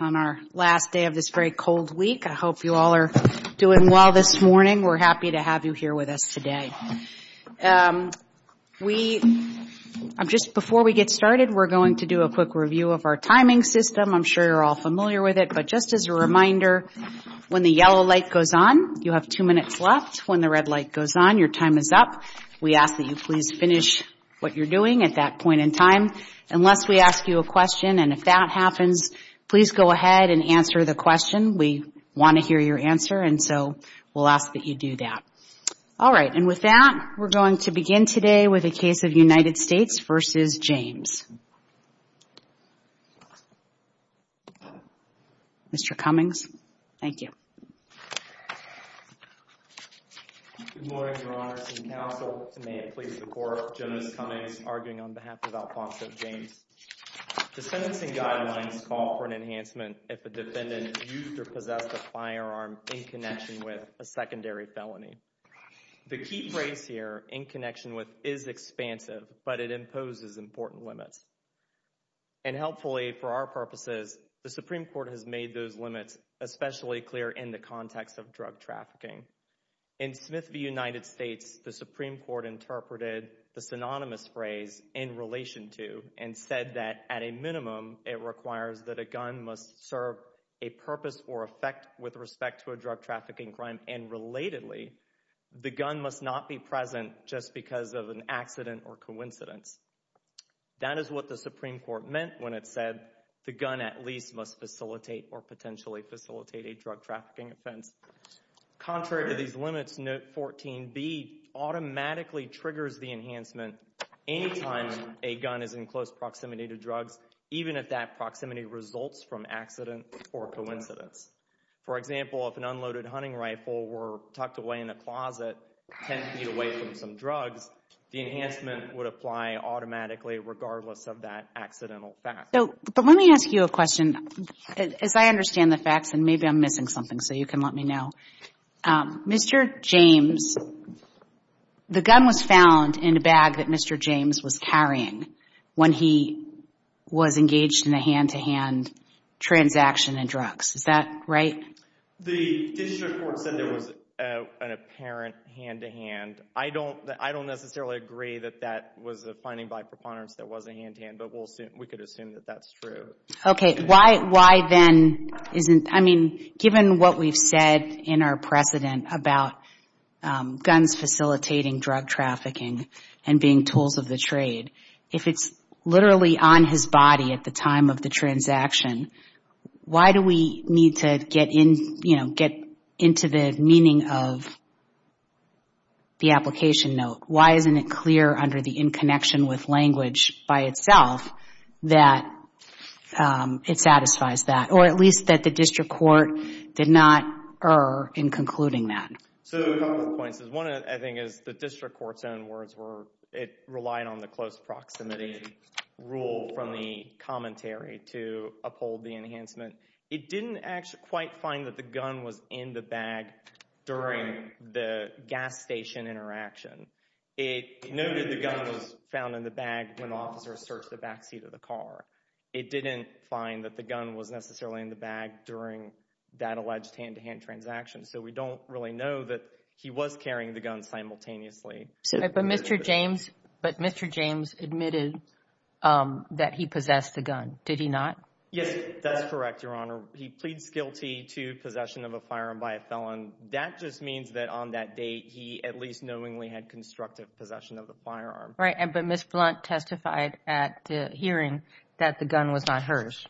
on our last day of this very cold week. I hope you all are doing well this morning. We're happy to have you here with us today. Just before we get started, we're going to do a quick review of our timing system. I'm sure you're all familiar with it, but just as a reminder, when the yellow light goes on, you have two minutes left. When the red light goes on, your time is up. We ask that you please finish what you're doing at that point in time. Unless we ask you a question and if that happens, please go ahead and answer the question. We want to hear your answer and so we'll ask that you do that. All right, and with that, we're going to begin today with a case of United States v. James. Mr. Cummings, thank you. Good morning, Your Honors and Counsel. May it please the Court, Jonas Cummings, arguing on behalf of Alphonso James. The sentencing guidelines call for an enhancement if a defendant used or possessed a firearm in connection with a secondary felony. The key phrase here, in connection with, is expansive, but it imposes important limits. And helpfully, for our purposes, the Supreme Court has made those limits especially clear in the context of drug trafficking. In Smith v. United States, the Supreme Court interpreted the synonymous phrase, in relation to, and said that, at a minimum, it requires that a gun must serve a purpose or effect with respect to a drug trafficking crime and, relatedly, the gun must not be present just because of an accident or coincidence. That is what the Supreme Court meant when it said the gun at least must facilitate or potentially facilitate a drug trafficking offense. Contrary to these limits, Note 14b automatically triggers the enhancement any time a gun is in close proximity to drugs, even if that proximity results from accident or coincidence. For example, if an unloaded hunting rifle were tucked away in a closet, 10 feet away from some drugs, the enhancement would apply automatically, regardless of that accidental fact. So, but let me ask you a question. As I understand the facts, and maybe I'm missing something, so you can let me know. Mr. James, the gun was found in a bag that Mr. James was carrying when he was engaged in a hand-to-hand transaction in drugs. Is that right? The district court said there was an apparent hand-to-hand. I don't necessarily agree that that was a finding by preponderance that was a hand-to-hand, but we could assume that that's true. Okay. Why then isn't, I mean, given what we've said in our precedent about guns facilitating drug trafficking and being tools of the trade, if it's literally on his body at the time of the transaction, why do we need to get into the meaning of the application note? Why isn't it clear under the in-connection with language by itself that it satisfies that, or at least that the district court did not err in concluding that? So, a couple of points. One, I think, is the district court's own words were it relied on the close proximity rule from the commentary to uphold the enhancement. It didn't actually quite find that the gun was in the bag during the gas station interaction. It noted the gun was found in the bag when officers searched the back seat of the car. It didn't find that the gun was necessarily in the bag during that alleged hand-to-hand transaction, so we don't really know that he was carrying the gun simultaneously. But Mr. James admitted that he possessed the gun. Did he not? Yes, that's correct, Your Honor. He pleads guilty to possession of a firearm by a felon. That just means that on that date, he at least knowingly had constructive possession of the firearm. Right, but Ms. Blunt testified at the hearing that the gun was not hers.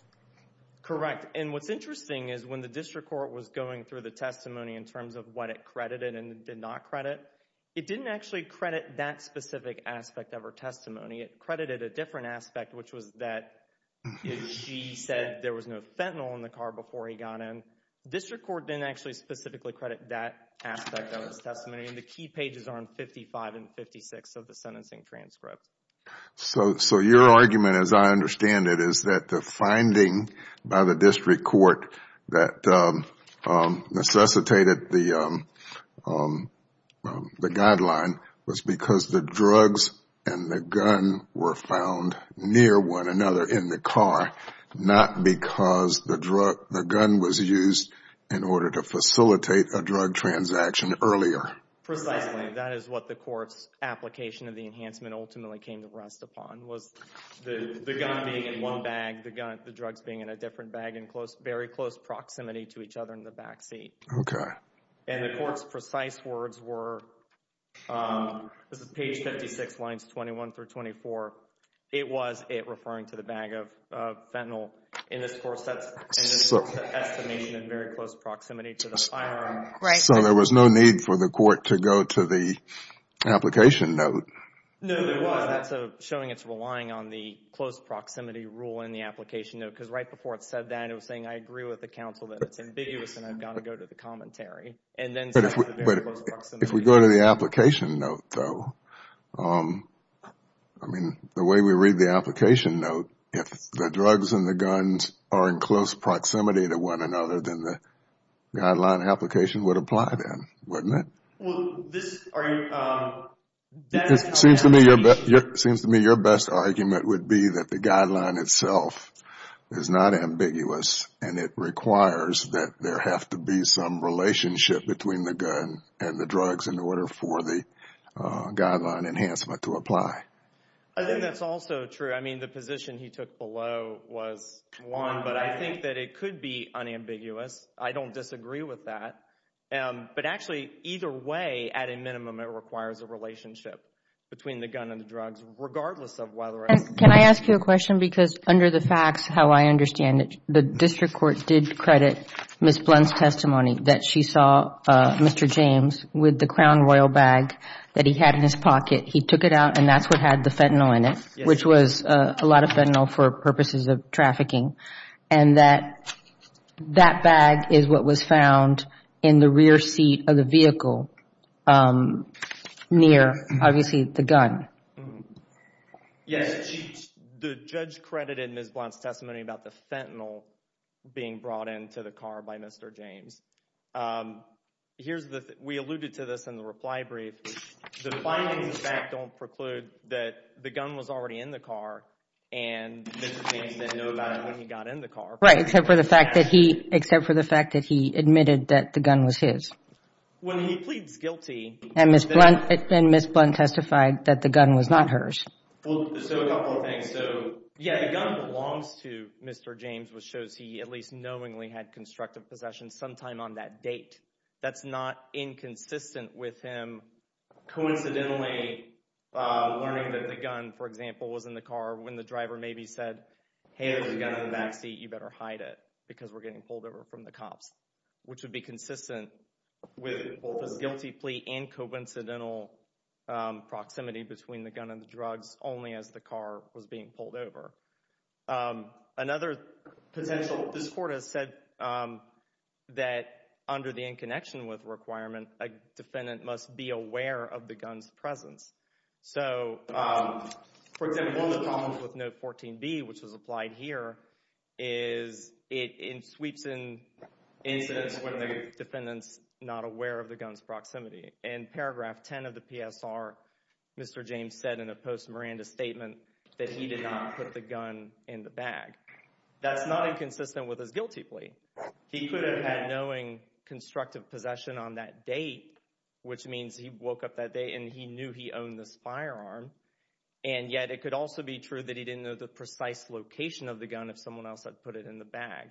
Correct, and what's interesting is when the district court was going through the testimony in terms of what it credited and did not credit, it didn't actually credit that specific aspect of her testimony. It credited a different aspect, which was that she said there was no fentanyl in the car before he got in. The district court didn't actually specifically credit that aspect of his testimony, and the key pages are on 55 and 56 of the sentencing transcript. So your argument, as I understand it, is that the finding by the district court that necessitated the guideline was because the drugs and the gun were found near one another in the car, not because the gun was used in order to facilitate a drug transaction earlier. Precisely, that is what the court's application of the enhancement ultimately came to rest upon, was the gun being in one bag, the drugs being in a different bag in very close proximity to each other in the backseat. Okay. And the court's precise words were, this is page 56, lines 21 through 24, it was it referring to the bag of fentanyl. In this course, that's an estimation in very close proximity to the firearm. Right. So there was no need for the court to go to the application note. No, there was. That's showing it's relying on the close proximity rule in the application note, because right before it said that, it was saying, I agree with the counsel that it's ambiguous and I've got to go to the commentary. But if we go to the application note, though, I mean, the way we read the application note, if the drugs and the guns are in close proximity to one another, then the guideline application would apply then, wouldn't it? Well, this, are you, that's kind of an allegation. It seems to me your best argument would be that the guideline itself is not ambiguous and it requires that there have to be some relationship between the gun and the drugs in order for the guideline enhancement to apply. I think that's also true. I mean, the position he took below was one, but I think that it could be unambiguous. I don't disagree with that. But actually, either way, at a minimum, it requires a relationship between the gun and the drugs, regardless of whether or not... Can I ask you a question? Because under the facts, how I understand it, the district court did credit Ms. Blunt's testimony that she saw Mr. James with the Crown Royal bag that he had in his pocket. He took it out and that's what had the fentanyl in it, which was a lot of fentanyl for purposes of trafficking, and that that bag is what was found in the rear seat of the vehicle near, obviously, the gun. Yes, the judge credited Ms. Blunt's testimony about the fentanyl being brought into the car by Mr. James. We alluded to this in the reply brief. The findings of fact don't preclude that the gun was already in the car and Mr. James didn't know about it when he got in the car. Right, except for the fact that he admitted that the gun was his. When he pleads guilty... And Ms. Blunt testified that the gun was not hers. Well, so a couple of things. So, yeah, the gun belongs to Mr. James, which shows he at least knowingly had constructive possession sometime on that date. That's not inconsistent with him coincidentally learning that the gun, for example, was in the car when the driver maybe said, hey, there's a gun in the back seat, you better hide it because we're getting pulled over from the cops, which would be consistent with both his guilty plea and coincidental proximity between the gun and the drugs only as the car was being pulled over. Another potential... this court has said that under the in connection with requirement, a defendant must be aware of the gun's presence. So, for example, one of the problems with Note 14b, which was applied here, is it sweeps in incidents when the defendant's not aware of the gun's proximity. In paragraph 10 of the PSR, Mr. James said in a post-Miranda statement that he did not put the gun in the bag. That's not inconsistent with his guilty plea. He could have had knowing constructive possession on that date, which means he woke up that day and he knew he owned this firearm, and yet it could also be true that he didn't know the precise location of the gun if someone else had put it in the bag.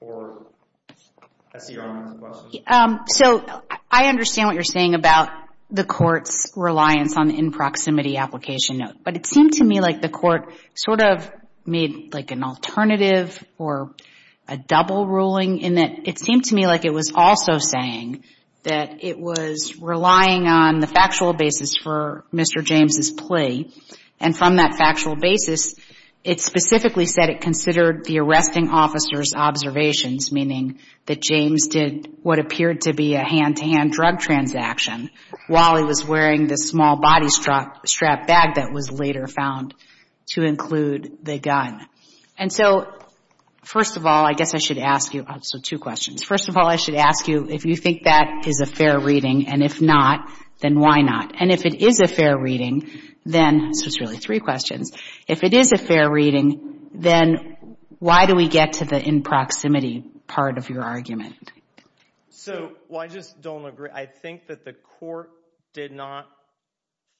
So, I understand what you're saying about the court's reliance on the in proximity application note, but it seemed to me like the court sort of made like an alternative or a double ruling in that it seemed to me like it was also saying that it was relying on the factual basis for Mr. James' plea, and from that factual basis, it specifically said it considered the arresting officer's observations, meaning that James did what appeared to be a hand-to-hand drug transaction while he was wearing this small body strap bag that was later found to include the gun. And so, first of all, I guess I should ask you, so two questions. First of all, I should ask you if you think that is a fair reading, and if not, then why not? And if it is a fair reading, then, so it's really three questions, if it is a fair reading, then why do we get to the in proximity part of your argument? So, well, I just don't agree. I think that the court did not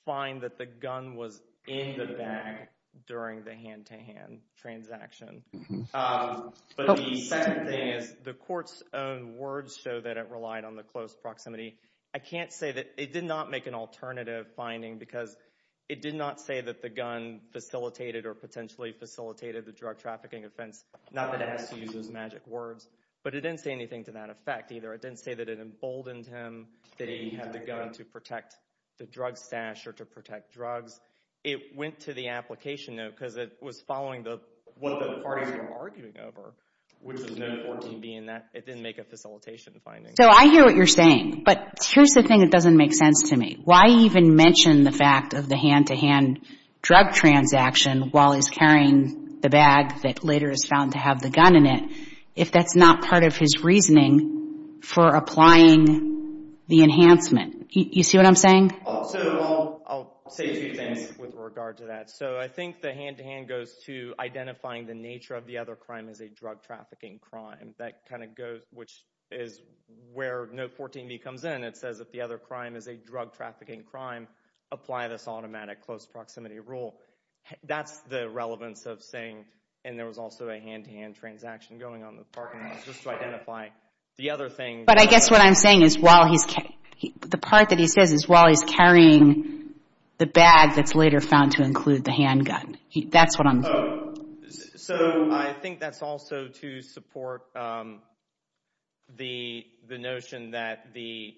find that the gun was in the bag during the hand-to-hand transaction. But the second thing is the court's own words show that it relied on the close proximity. I can't say that it did not make an alternative finding because it did not say that the gun facilitated or potentially facilitated the drug trafficking offense. Not that it has to use those magic words, but it didn't say anything to that effect either. It didn't say that it emboldened him, that he had the gun to protect the drug stash or to protect drugs. It went to the application note because it was following the, what the parties were arguing over, which is no 14B in that it didn't make a facilitation finding. So I hear what you're saying, but here's the thing that doesn't make sense to me. Why even mention the fact of the hand-to-hand drug transaction while he's carrying the bag that later is found to have the gun in it, if that's not part of his reasoning for applying the enhancement? You see what I'm saying? So I'll say two things with regard to that. So I think the hand-to-hand goes to identifying the nature of the other crime as a drug trafficking crime. That kind of goes, which is where no 14B comes in. It says if the other crime is a drug trafficking crime, apply this automatic close proximity rule. That's the relevance of saying, and there was also a hand-to-hand transaction going on in the parking lot, just to identify the other thing. But I guess what I'm saying is while he's, the part that he says is while he's carrying the bag that's later found to include the handgun. That's what I'm... So I think that's also to support the notion that the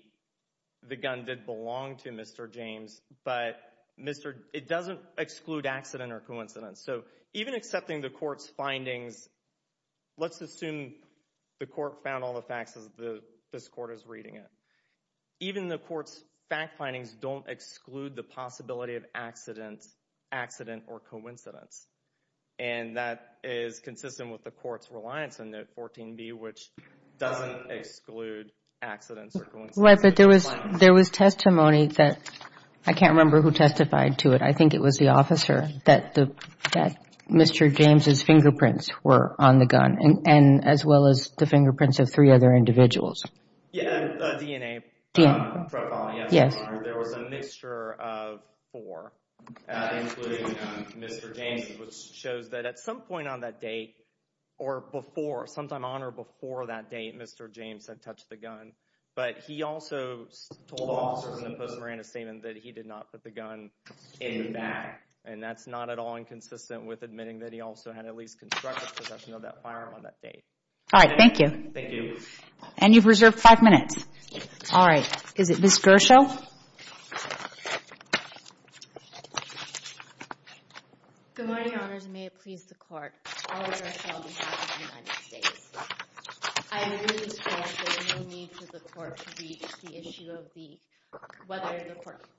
gun did belong to Mr. James, but it doesn't exclude accident or coincidence. So even accepting the court's findings, let's assume the court found all the facts as this court is reading it. Even the court's fact findings don't exclude the possibility of accident or coincidence. And that is consistent with the court's reliance on that 14B, which doesn't exclude accidents or coincidences. Right, but there was testimony that, I can't remember who testified to it. I think it was the officer that Mr. James' fingerprints were on the gun and as well as the fingerprints of three other individuals. Yeah, DNA, there was a mixture of four, including Mr. James, which shows that at some point on that date, or before, sometime on or before that date, Mr. James had touched the gun. But he also told officers in the Post-Miranda Statement that he did not put the gun in the bag. And that's not at all inconsistent with admitting that he also had at least constructive possession of that firearm on that date. All right, thank you. Thank you. And you've reserved five minutes. All right, is it Ms. Gershow? Good morning, Your Honors, and may it please the Court, all of Gershow on behalf of the United States. I agree with this Court that there is no need for the Court to reach the issue of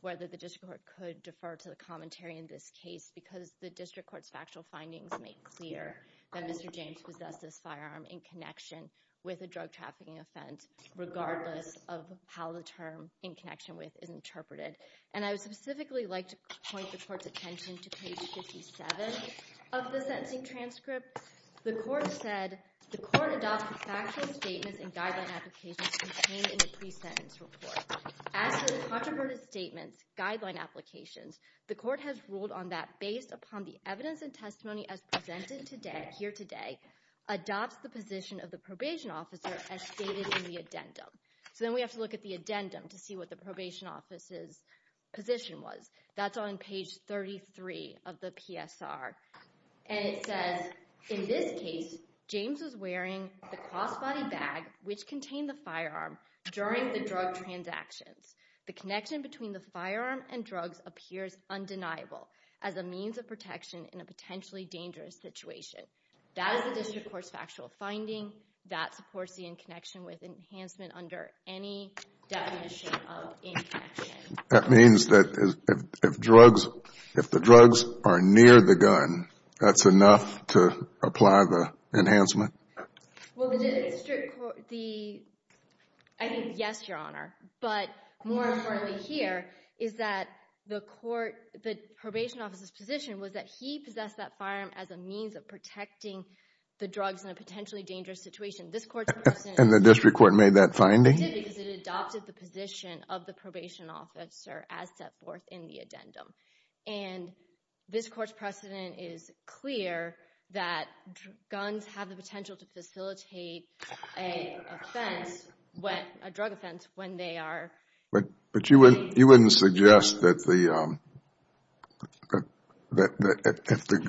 whether the District Court could defer to the commentary in this case because the District Court's factual findings make clear that Mr. James possessed this firearm in connection with a drug trafficking offense, regardless of how the term in connection with is interpreted. And I would specifically like to point the Court's attention to page 57 of the sentencing transcript. The Court said, the Court adopted factual statements and guideline applications contained in the pre-sentence report. As for the controverted statements, guideline applications, the Court has ruled on that based upon the evidence and testimony as presented today, here today, adopts the position of the probation officer as stated in the addendum. So then we have to look at the addendum to see what the probation officer's position was. That's on page 33 of the PSR. And it says, in this case, James was wearing the crossbody bag which contained the firearm during the drug transactions. The connection between the firearm and drugs appears undeniable as a means of protection in a potentially dangerous situation. That is the District Court's factual finding. That supports the in connection with enhancement under any definition of in connection. That means that if drugs, if the drugs are near the gun, that's enough to apply the enhancement? Well, the District Court, the, I think, yes, Your Honor. But more importantly here is that the court, the probation officer's position was that he possessed that firearm as a means of protecting the drugs in a potentially dangerous situation. This Court's precedent And the District Court made that finding? Made it because it adopted the position of the probation officer as set forth in the addendum. And this Court's precedent is clear that guns have the potential to facilitate a offense, a drug offense, when they are But you wouldn't suggest that if the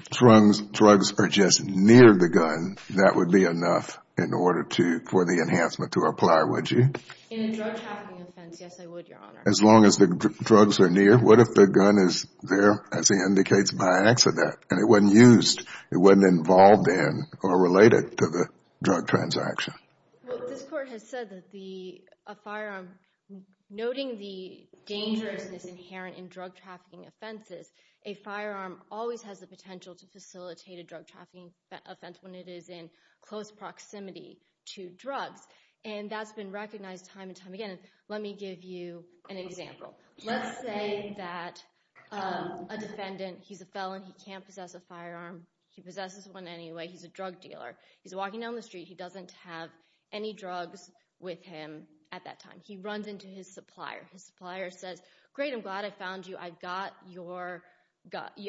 drugs are just near the gun, that would be enough in order for the enhancement to apply, would you? In a drug trafficking offense, yes, I would, Your Honor. As long as the drugs are near, what if the gun is there, as he indicates, by accident and it wasn't used, it wasn't involved in or related to the drug transaction? Well, this Court has said that the, a firearm, noting the dangerousness inherent in drug trafficking offenses, a firearm always has the potential to facilitate a drug trafficking offense when it is in close proximity to drugs. And that's been recognized time and time again. Let me give you an example. Let's say that a defendant, he's a felon, he can't possess a firearm, he possesses one anyway, he's a drug dealer, he's walking down the street, he doesn't have any drugs with him at that time. He runs into his supplier, his supplier says, great, I'm glad I found you, I've got your,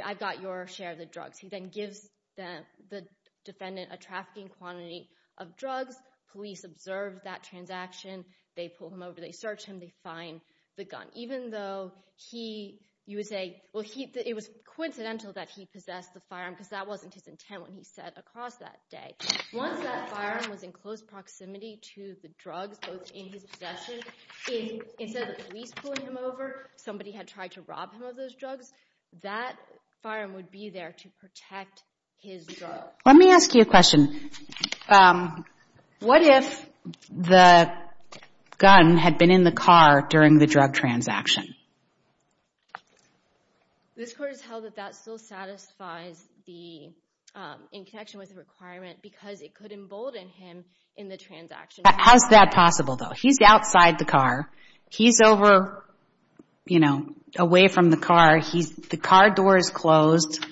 I've got your share of the drugs. He then gives the defendant a trafficking quantity of drugs, police observe that transaction, they pull him over, they search him, they find the gun. Even though he, you would say, well, it was coincidental that he possessed the firearm, because that wasn't his intent when he said across that day. Once that firearm was in close proximity to the drugs, both in his possession, instead of the police pulling him over, somebody had tried to rob him of those drugs, that firearm would be there to protect his drug. Let me ask you a question. What if the gun had been in the car during the drug transaction? This court has held that that still satisfies the, in connection with the requirement, because it could embolden him in the transaction. How's that possible though? He's outside the car, he's over, you know, away from the car, he's, the car door is closed,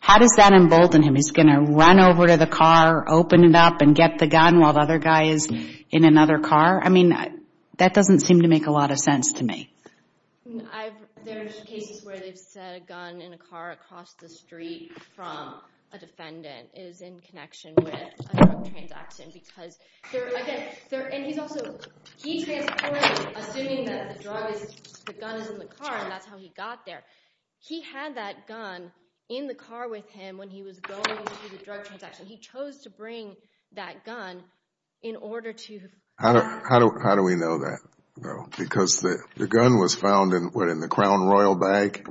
how does that embolden him? He's going to run over to the car, open it up and get the gun while the other guy is in another car? I mean, that doesn't seem to make a lot of sense to me. There's cases where they've said a gun in a car across the street from a defendant is in connection with a drug transaction, because they're, again, they're, and he's also, he transported, assuming that the drug is, the gun is in the car and that's how he got there. He had that gun in the car with him when he was going through the drug transaction. He chose to bring that gun in order to... How do, how do, how do we know that though? Because the, the gun was found in, what, in the Crown Royal bag?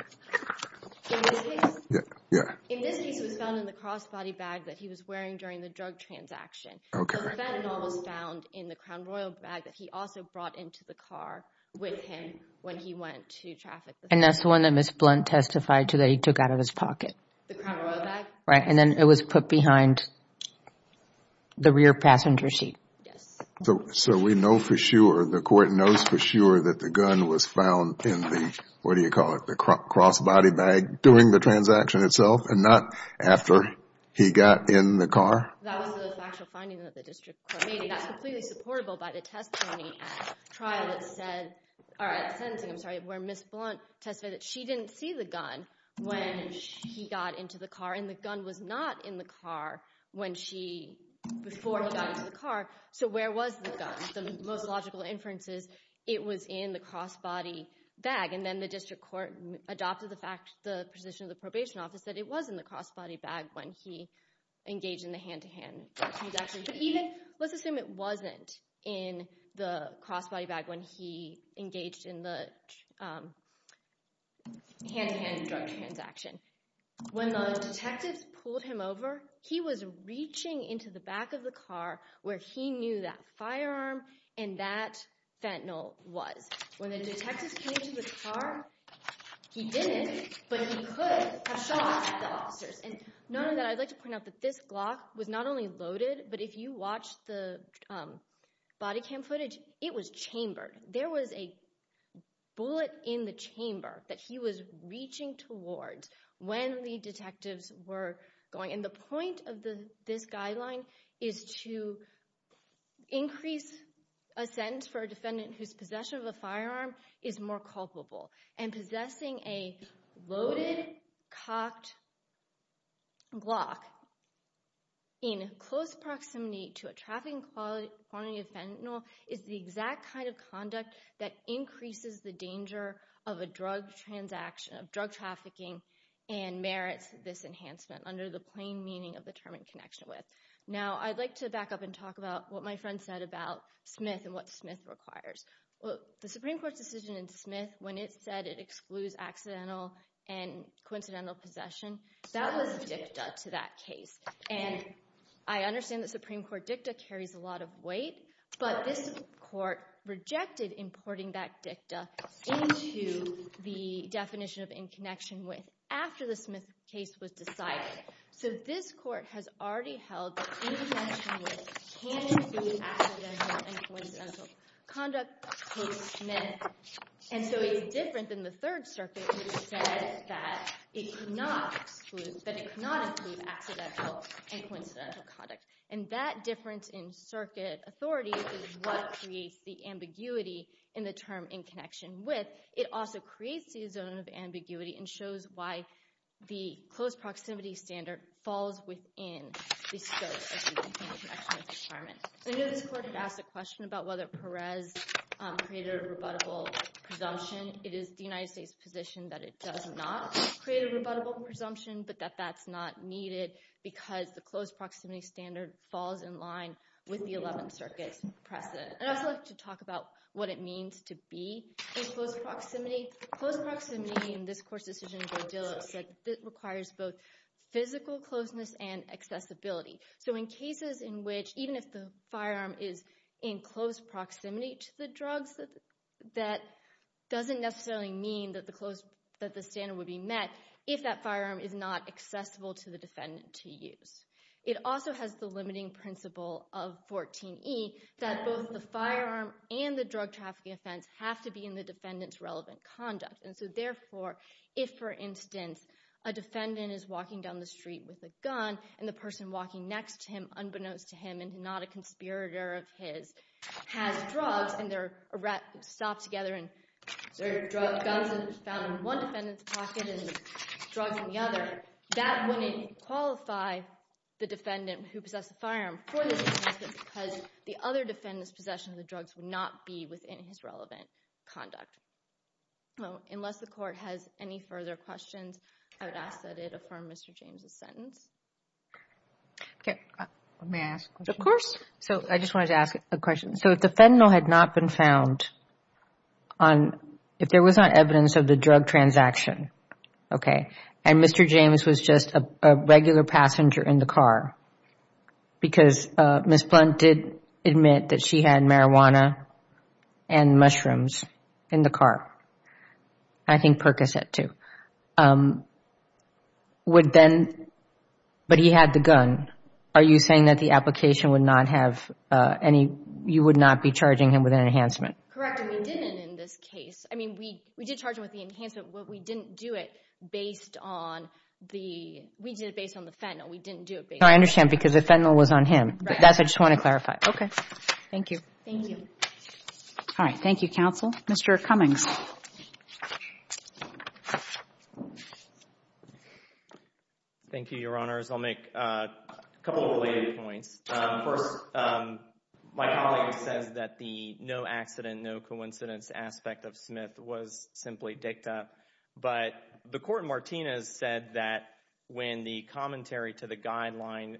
Yeah, yeah. In this case, it was found in the crossbody bag that he was wearing during the drug transaction. Okay. The fentanyl was found in the Crown Royal bag that he also brought into the car with him when he went to traffic... And that's the one that Ms. Blunt testified to that he took out of his pocket. The Crown Royal bag? Right. And then it was put behind the rear passenger seat. Yes. So, so we know for sure, the court knows for sure that the gun was found in the, what do you call it, the crossbody bag during the transaction itself and not after he got in the car? That was the factual finding that the district court made. It got completely supportable by the testimony at the trial that said, or at the sentencing, I'm sorry, where Ms. Blunt testified that she didn't see the gun when he got into the car and the gun was not in the car when she, before he got into the car. So where was the gun? The most logical inference is it was in the crossbody bag. And then the district court adopted the fact, the position of the probation office, that it was in the crossbody bag when he engaged in the hand-to-hand transaction. But even, let's assume it wasn't in the crossbody bag when he engaged in the hand-to-hand drug transaction. When the detectives pulled him over, he was reaching into the back of the car where he knew that firearm and that fentanyl was. When the detectives came to the car, he didn't, but he could have shot at the officers. And the body cam footage, it was chambered. There was a bullet in the chamber that he was reaching towards when the detectives were going. And the point of this guideline is to increase a sentence for a defendant whose possession of a firearm is more culpable. And possessing a loaded, cocked Glock in close proximity to a trafficking quantity of fentanyl is the exact kind of conduct that increases the danger of a drug transaction, of drug trafficking, and merits this enhancement under the plain meaning of the term in connection with. Now, I'd like to back up and talk about what my friend said about Smith and what Smith requires. Well, the Supreme Court's decision in Smith when it said it excludes accidental and coincidental possession, that was dicta to that case. And I understand the Supreme Court dicta carries a lot of weight, but this court rejected importing that dicta into the definition of in connection with after the Smith case was decided. So this court has already held that in connection with can exclude accidental and coincidental conduct post Smith. And so it's different than the Third Circuit, which said that it could not exclude, that it could not exclude accidental and coincidental conduct. And that difference in circuit authority is what creates the ambiguity in the term in connection with. It also creates the zone of ambiguity and shows why the close proximity standard falls within the scope of the in connection with requirement. I know this court had asked a question about whether Perez created a rebuttable presumption. It is the United States' position that it does not create a rebuttable presumption, but that that's not needed because the close proximity standard falls in line with the 11th Circuit's precedent. I'd also like to talk about what it means to be in close proximity. Close proximity in this court's decision by Dillow said it requires both physical closeness and accessibility. So in cases in which even if the firearm is in close proximity to the drugs, that doesn't necessarily mean that the close, that the standard would be met if that firearm is not accessible to the defendant to use. It also has the limiting principle of 14e that both the firearm and the drug trafficking offense have to be in the defendant's relevant conduct. And so therefore, if for instance a defendant is walking down the street with a gun and the person walking next to him unbeknownst to him and not a conspirator of his has drugs and they're stopped together and their guns are found in one defendant's pocket and drugs in the other, that wouldn't qualify the defendant who possessed the firearm for this because the other defendant's possession of the drugs would not be within his relevant conduct. Well, unless the Court has any further questions, I would ask that it affirm Mr. James's sentence. Okay, may I ask a question? Of course. So I just wanted to ask a question. So if the Okay. And Mr. James was just a regular passenger in the car because Ms. Blunt did admit that she had marijuana and mushrooms in the car. I think Perkins had too. But he had the gun. Are you saying that the application would not have any, you would not be charging him with an enhancement? Correct. We didn't in this case. I mean, we did charge him with the enhancement, but we didn't do it based on the, we did it based on the fentanyl. We didn't do it. I understand because the fentanyl was on him, but that's, I just want to clarify. Okay. Thank you. Thank you. All right. Thank you, counsel. Mr. Cummings. Thank you, your honors. I'll make a couple of related points. First, my colleague says that the no accident, no coincidence aspect of Smith was simply dicta. But the court in Martinez said that when the commentary to the guideline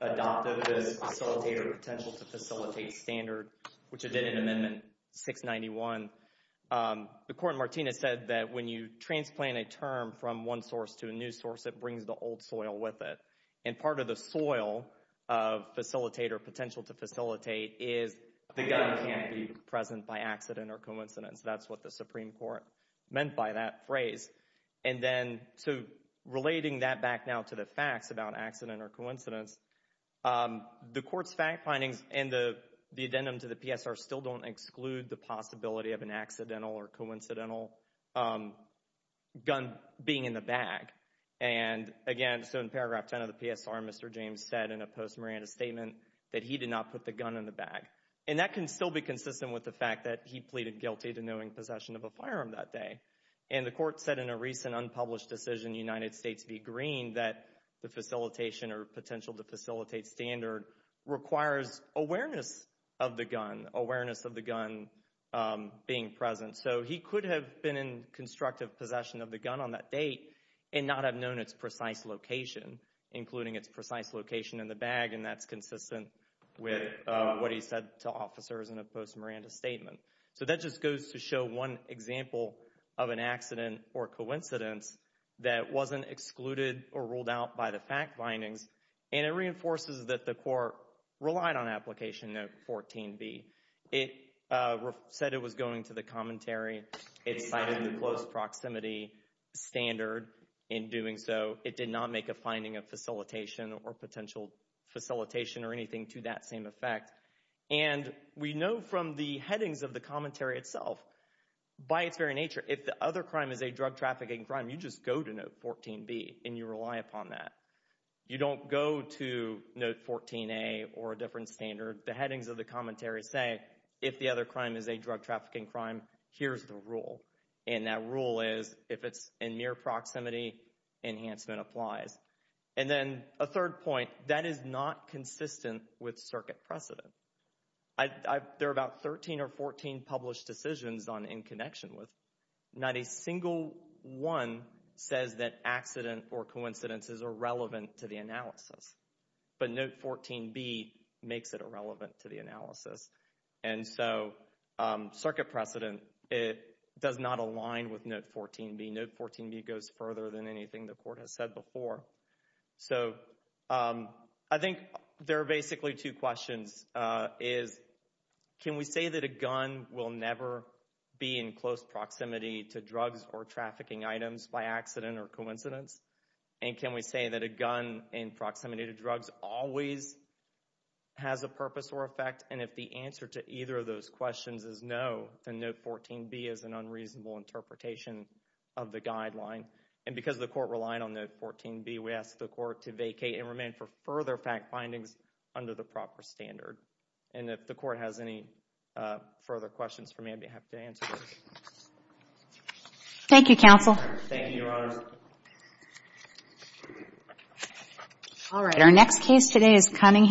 adopted the facilitator potential to facilitate standard, which it did in amendment 691, the court in Martinez said that when you transplant a term from one source to a new source, it brings the old soil with it. And part of the soil of facilitator potential to facilitate is the gun can't be present by accident or coincidence. That's what the Supreme Court meant by that phrase. And then, so relating that back now to the facts about accident or coincidence, the court's fact findings and the addendum to the PSR still don't exclude the possibility of an accidental or coincidental gun being in the bag. And again, so in paragraph 10 of the PSR, Mr. James said in a post-Miranda statement that he did not put the gun in the bag. And that can still be consistent with the fact that he pleaded guilty to knowing possession of a firearm that day. And the court said in a recent unpublished decision, United States v. Green, that the facilitation or potential to facilitate standard requires awareness of the gun, awareness of the gun being present. So he could have been in constructive possession of the gun on that date and not have known its precise location, including its precise location in the bag. And that's consistent with what he said to officers in a post-Miranda statement. So that just goes to show one example of an accident or coincidence that wasn't excluded or ruled out by the fact findings. And it reinforces that the court relied on application note 14B. It said it was going to the commentary. It cited the close proximity standard in doing so. It did not make a finding of facilitation or potential facilitation or anything to that same effect. And we know from the headings of the commentary itself, by its very nature, if the other crime is a drug trafficking crime, you just go to note 14B and you rely upon that. You don't go to note 14A or a different standard. The headings of the commentary say, if the other crime is a drug trafficking crime, here's the rule. And that rule is, if it's in mere proximity, enhancement applies. And then a third point, that is not consistent with circuit precedent. There are about 13 or 14 published decisions on in connection with. Not a single one says that accident or coincidence is irrelevant to the analysis. But note 14B makes it irrelevant to the analysis. And so circuit precedent, it does not align with note 14B. Note 14B goes further than anything the court has said before. So I think there are basically two questions is, can we say that a gun will never be in close proximity to drugs or trafficking items by accident or coincidence? And can we say that a gun in proximity to drugs always has a purpose or effect? And if the answer to either of those questions is no, then note 14B is an unreasonable interpretation of the guideline. And because the court relied on note 14B, we asked the court to vacate and remain for further fact findings under the proper standard. And if the court has any further questions for me, I'd be happy to answer those. Thank you, counsel. Thank you, Your Honor. All right. Our next case today is Cunningham.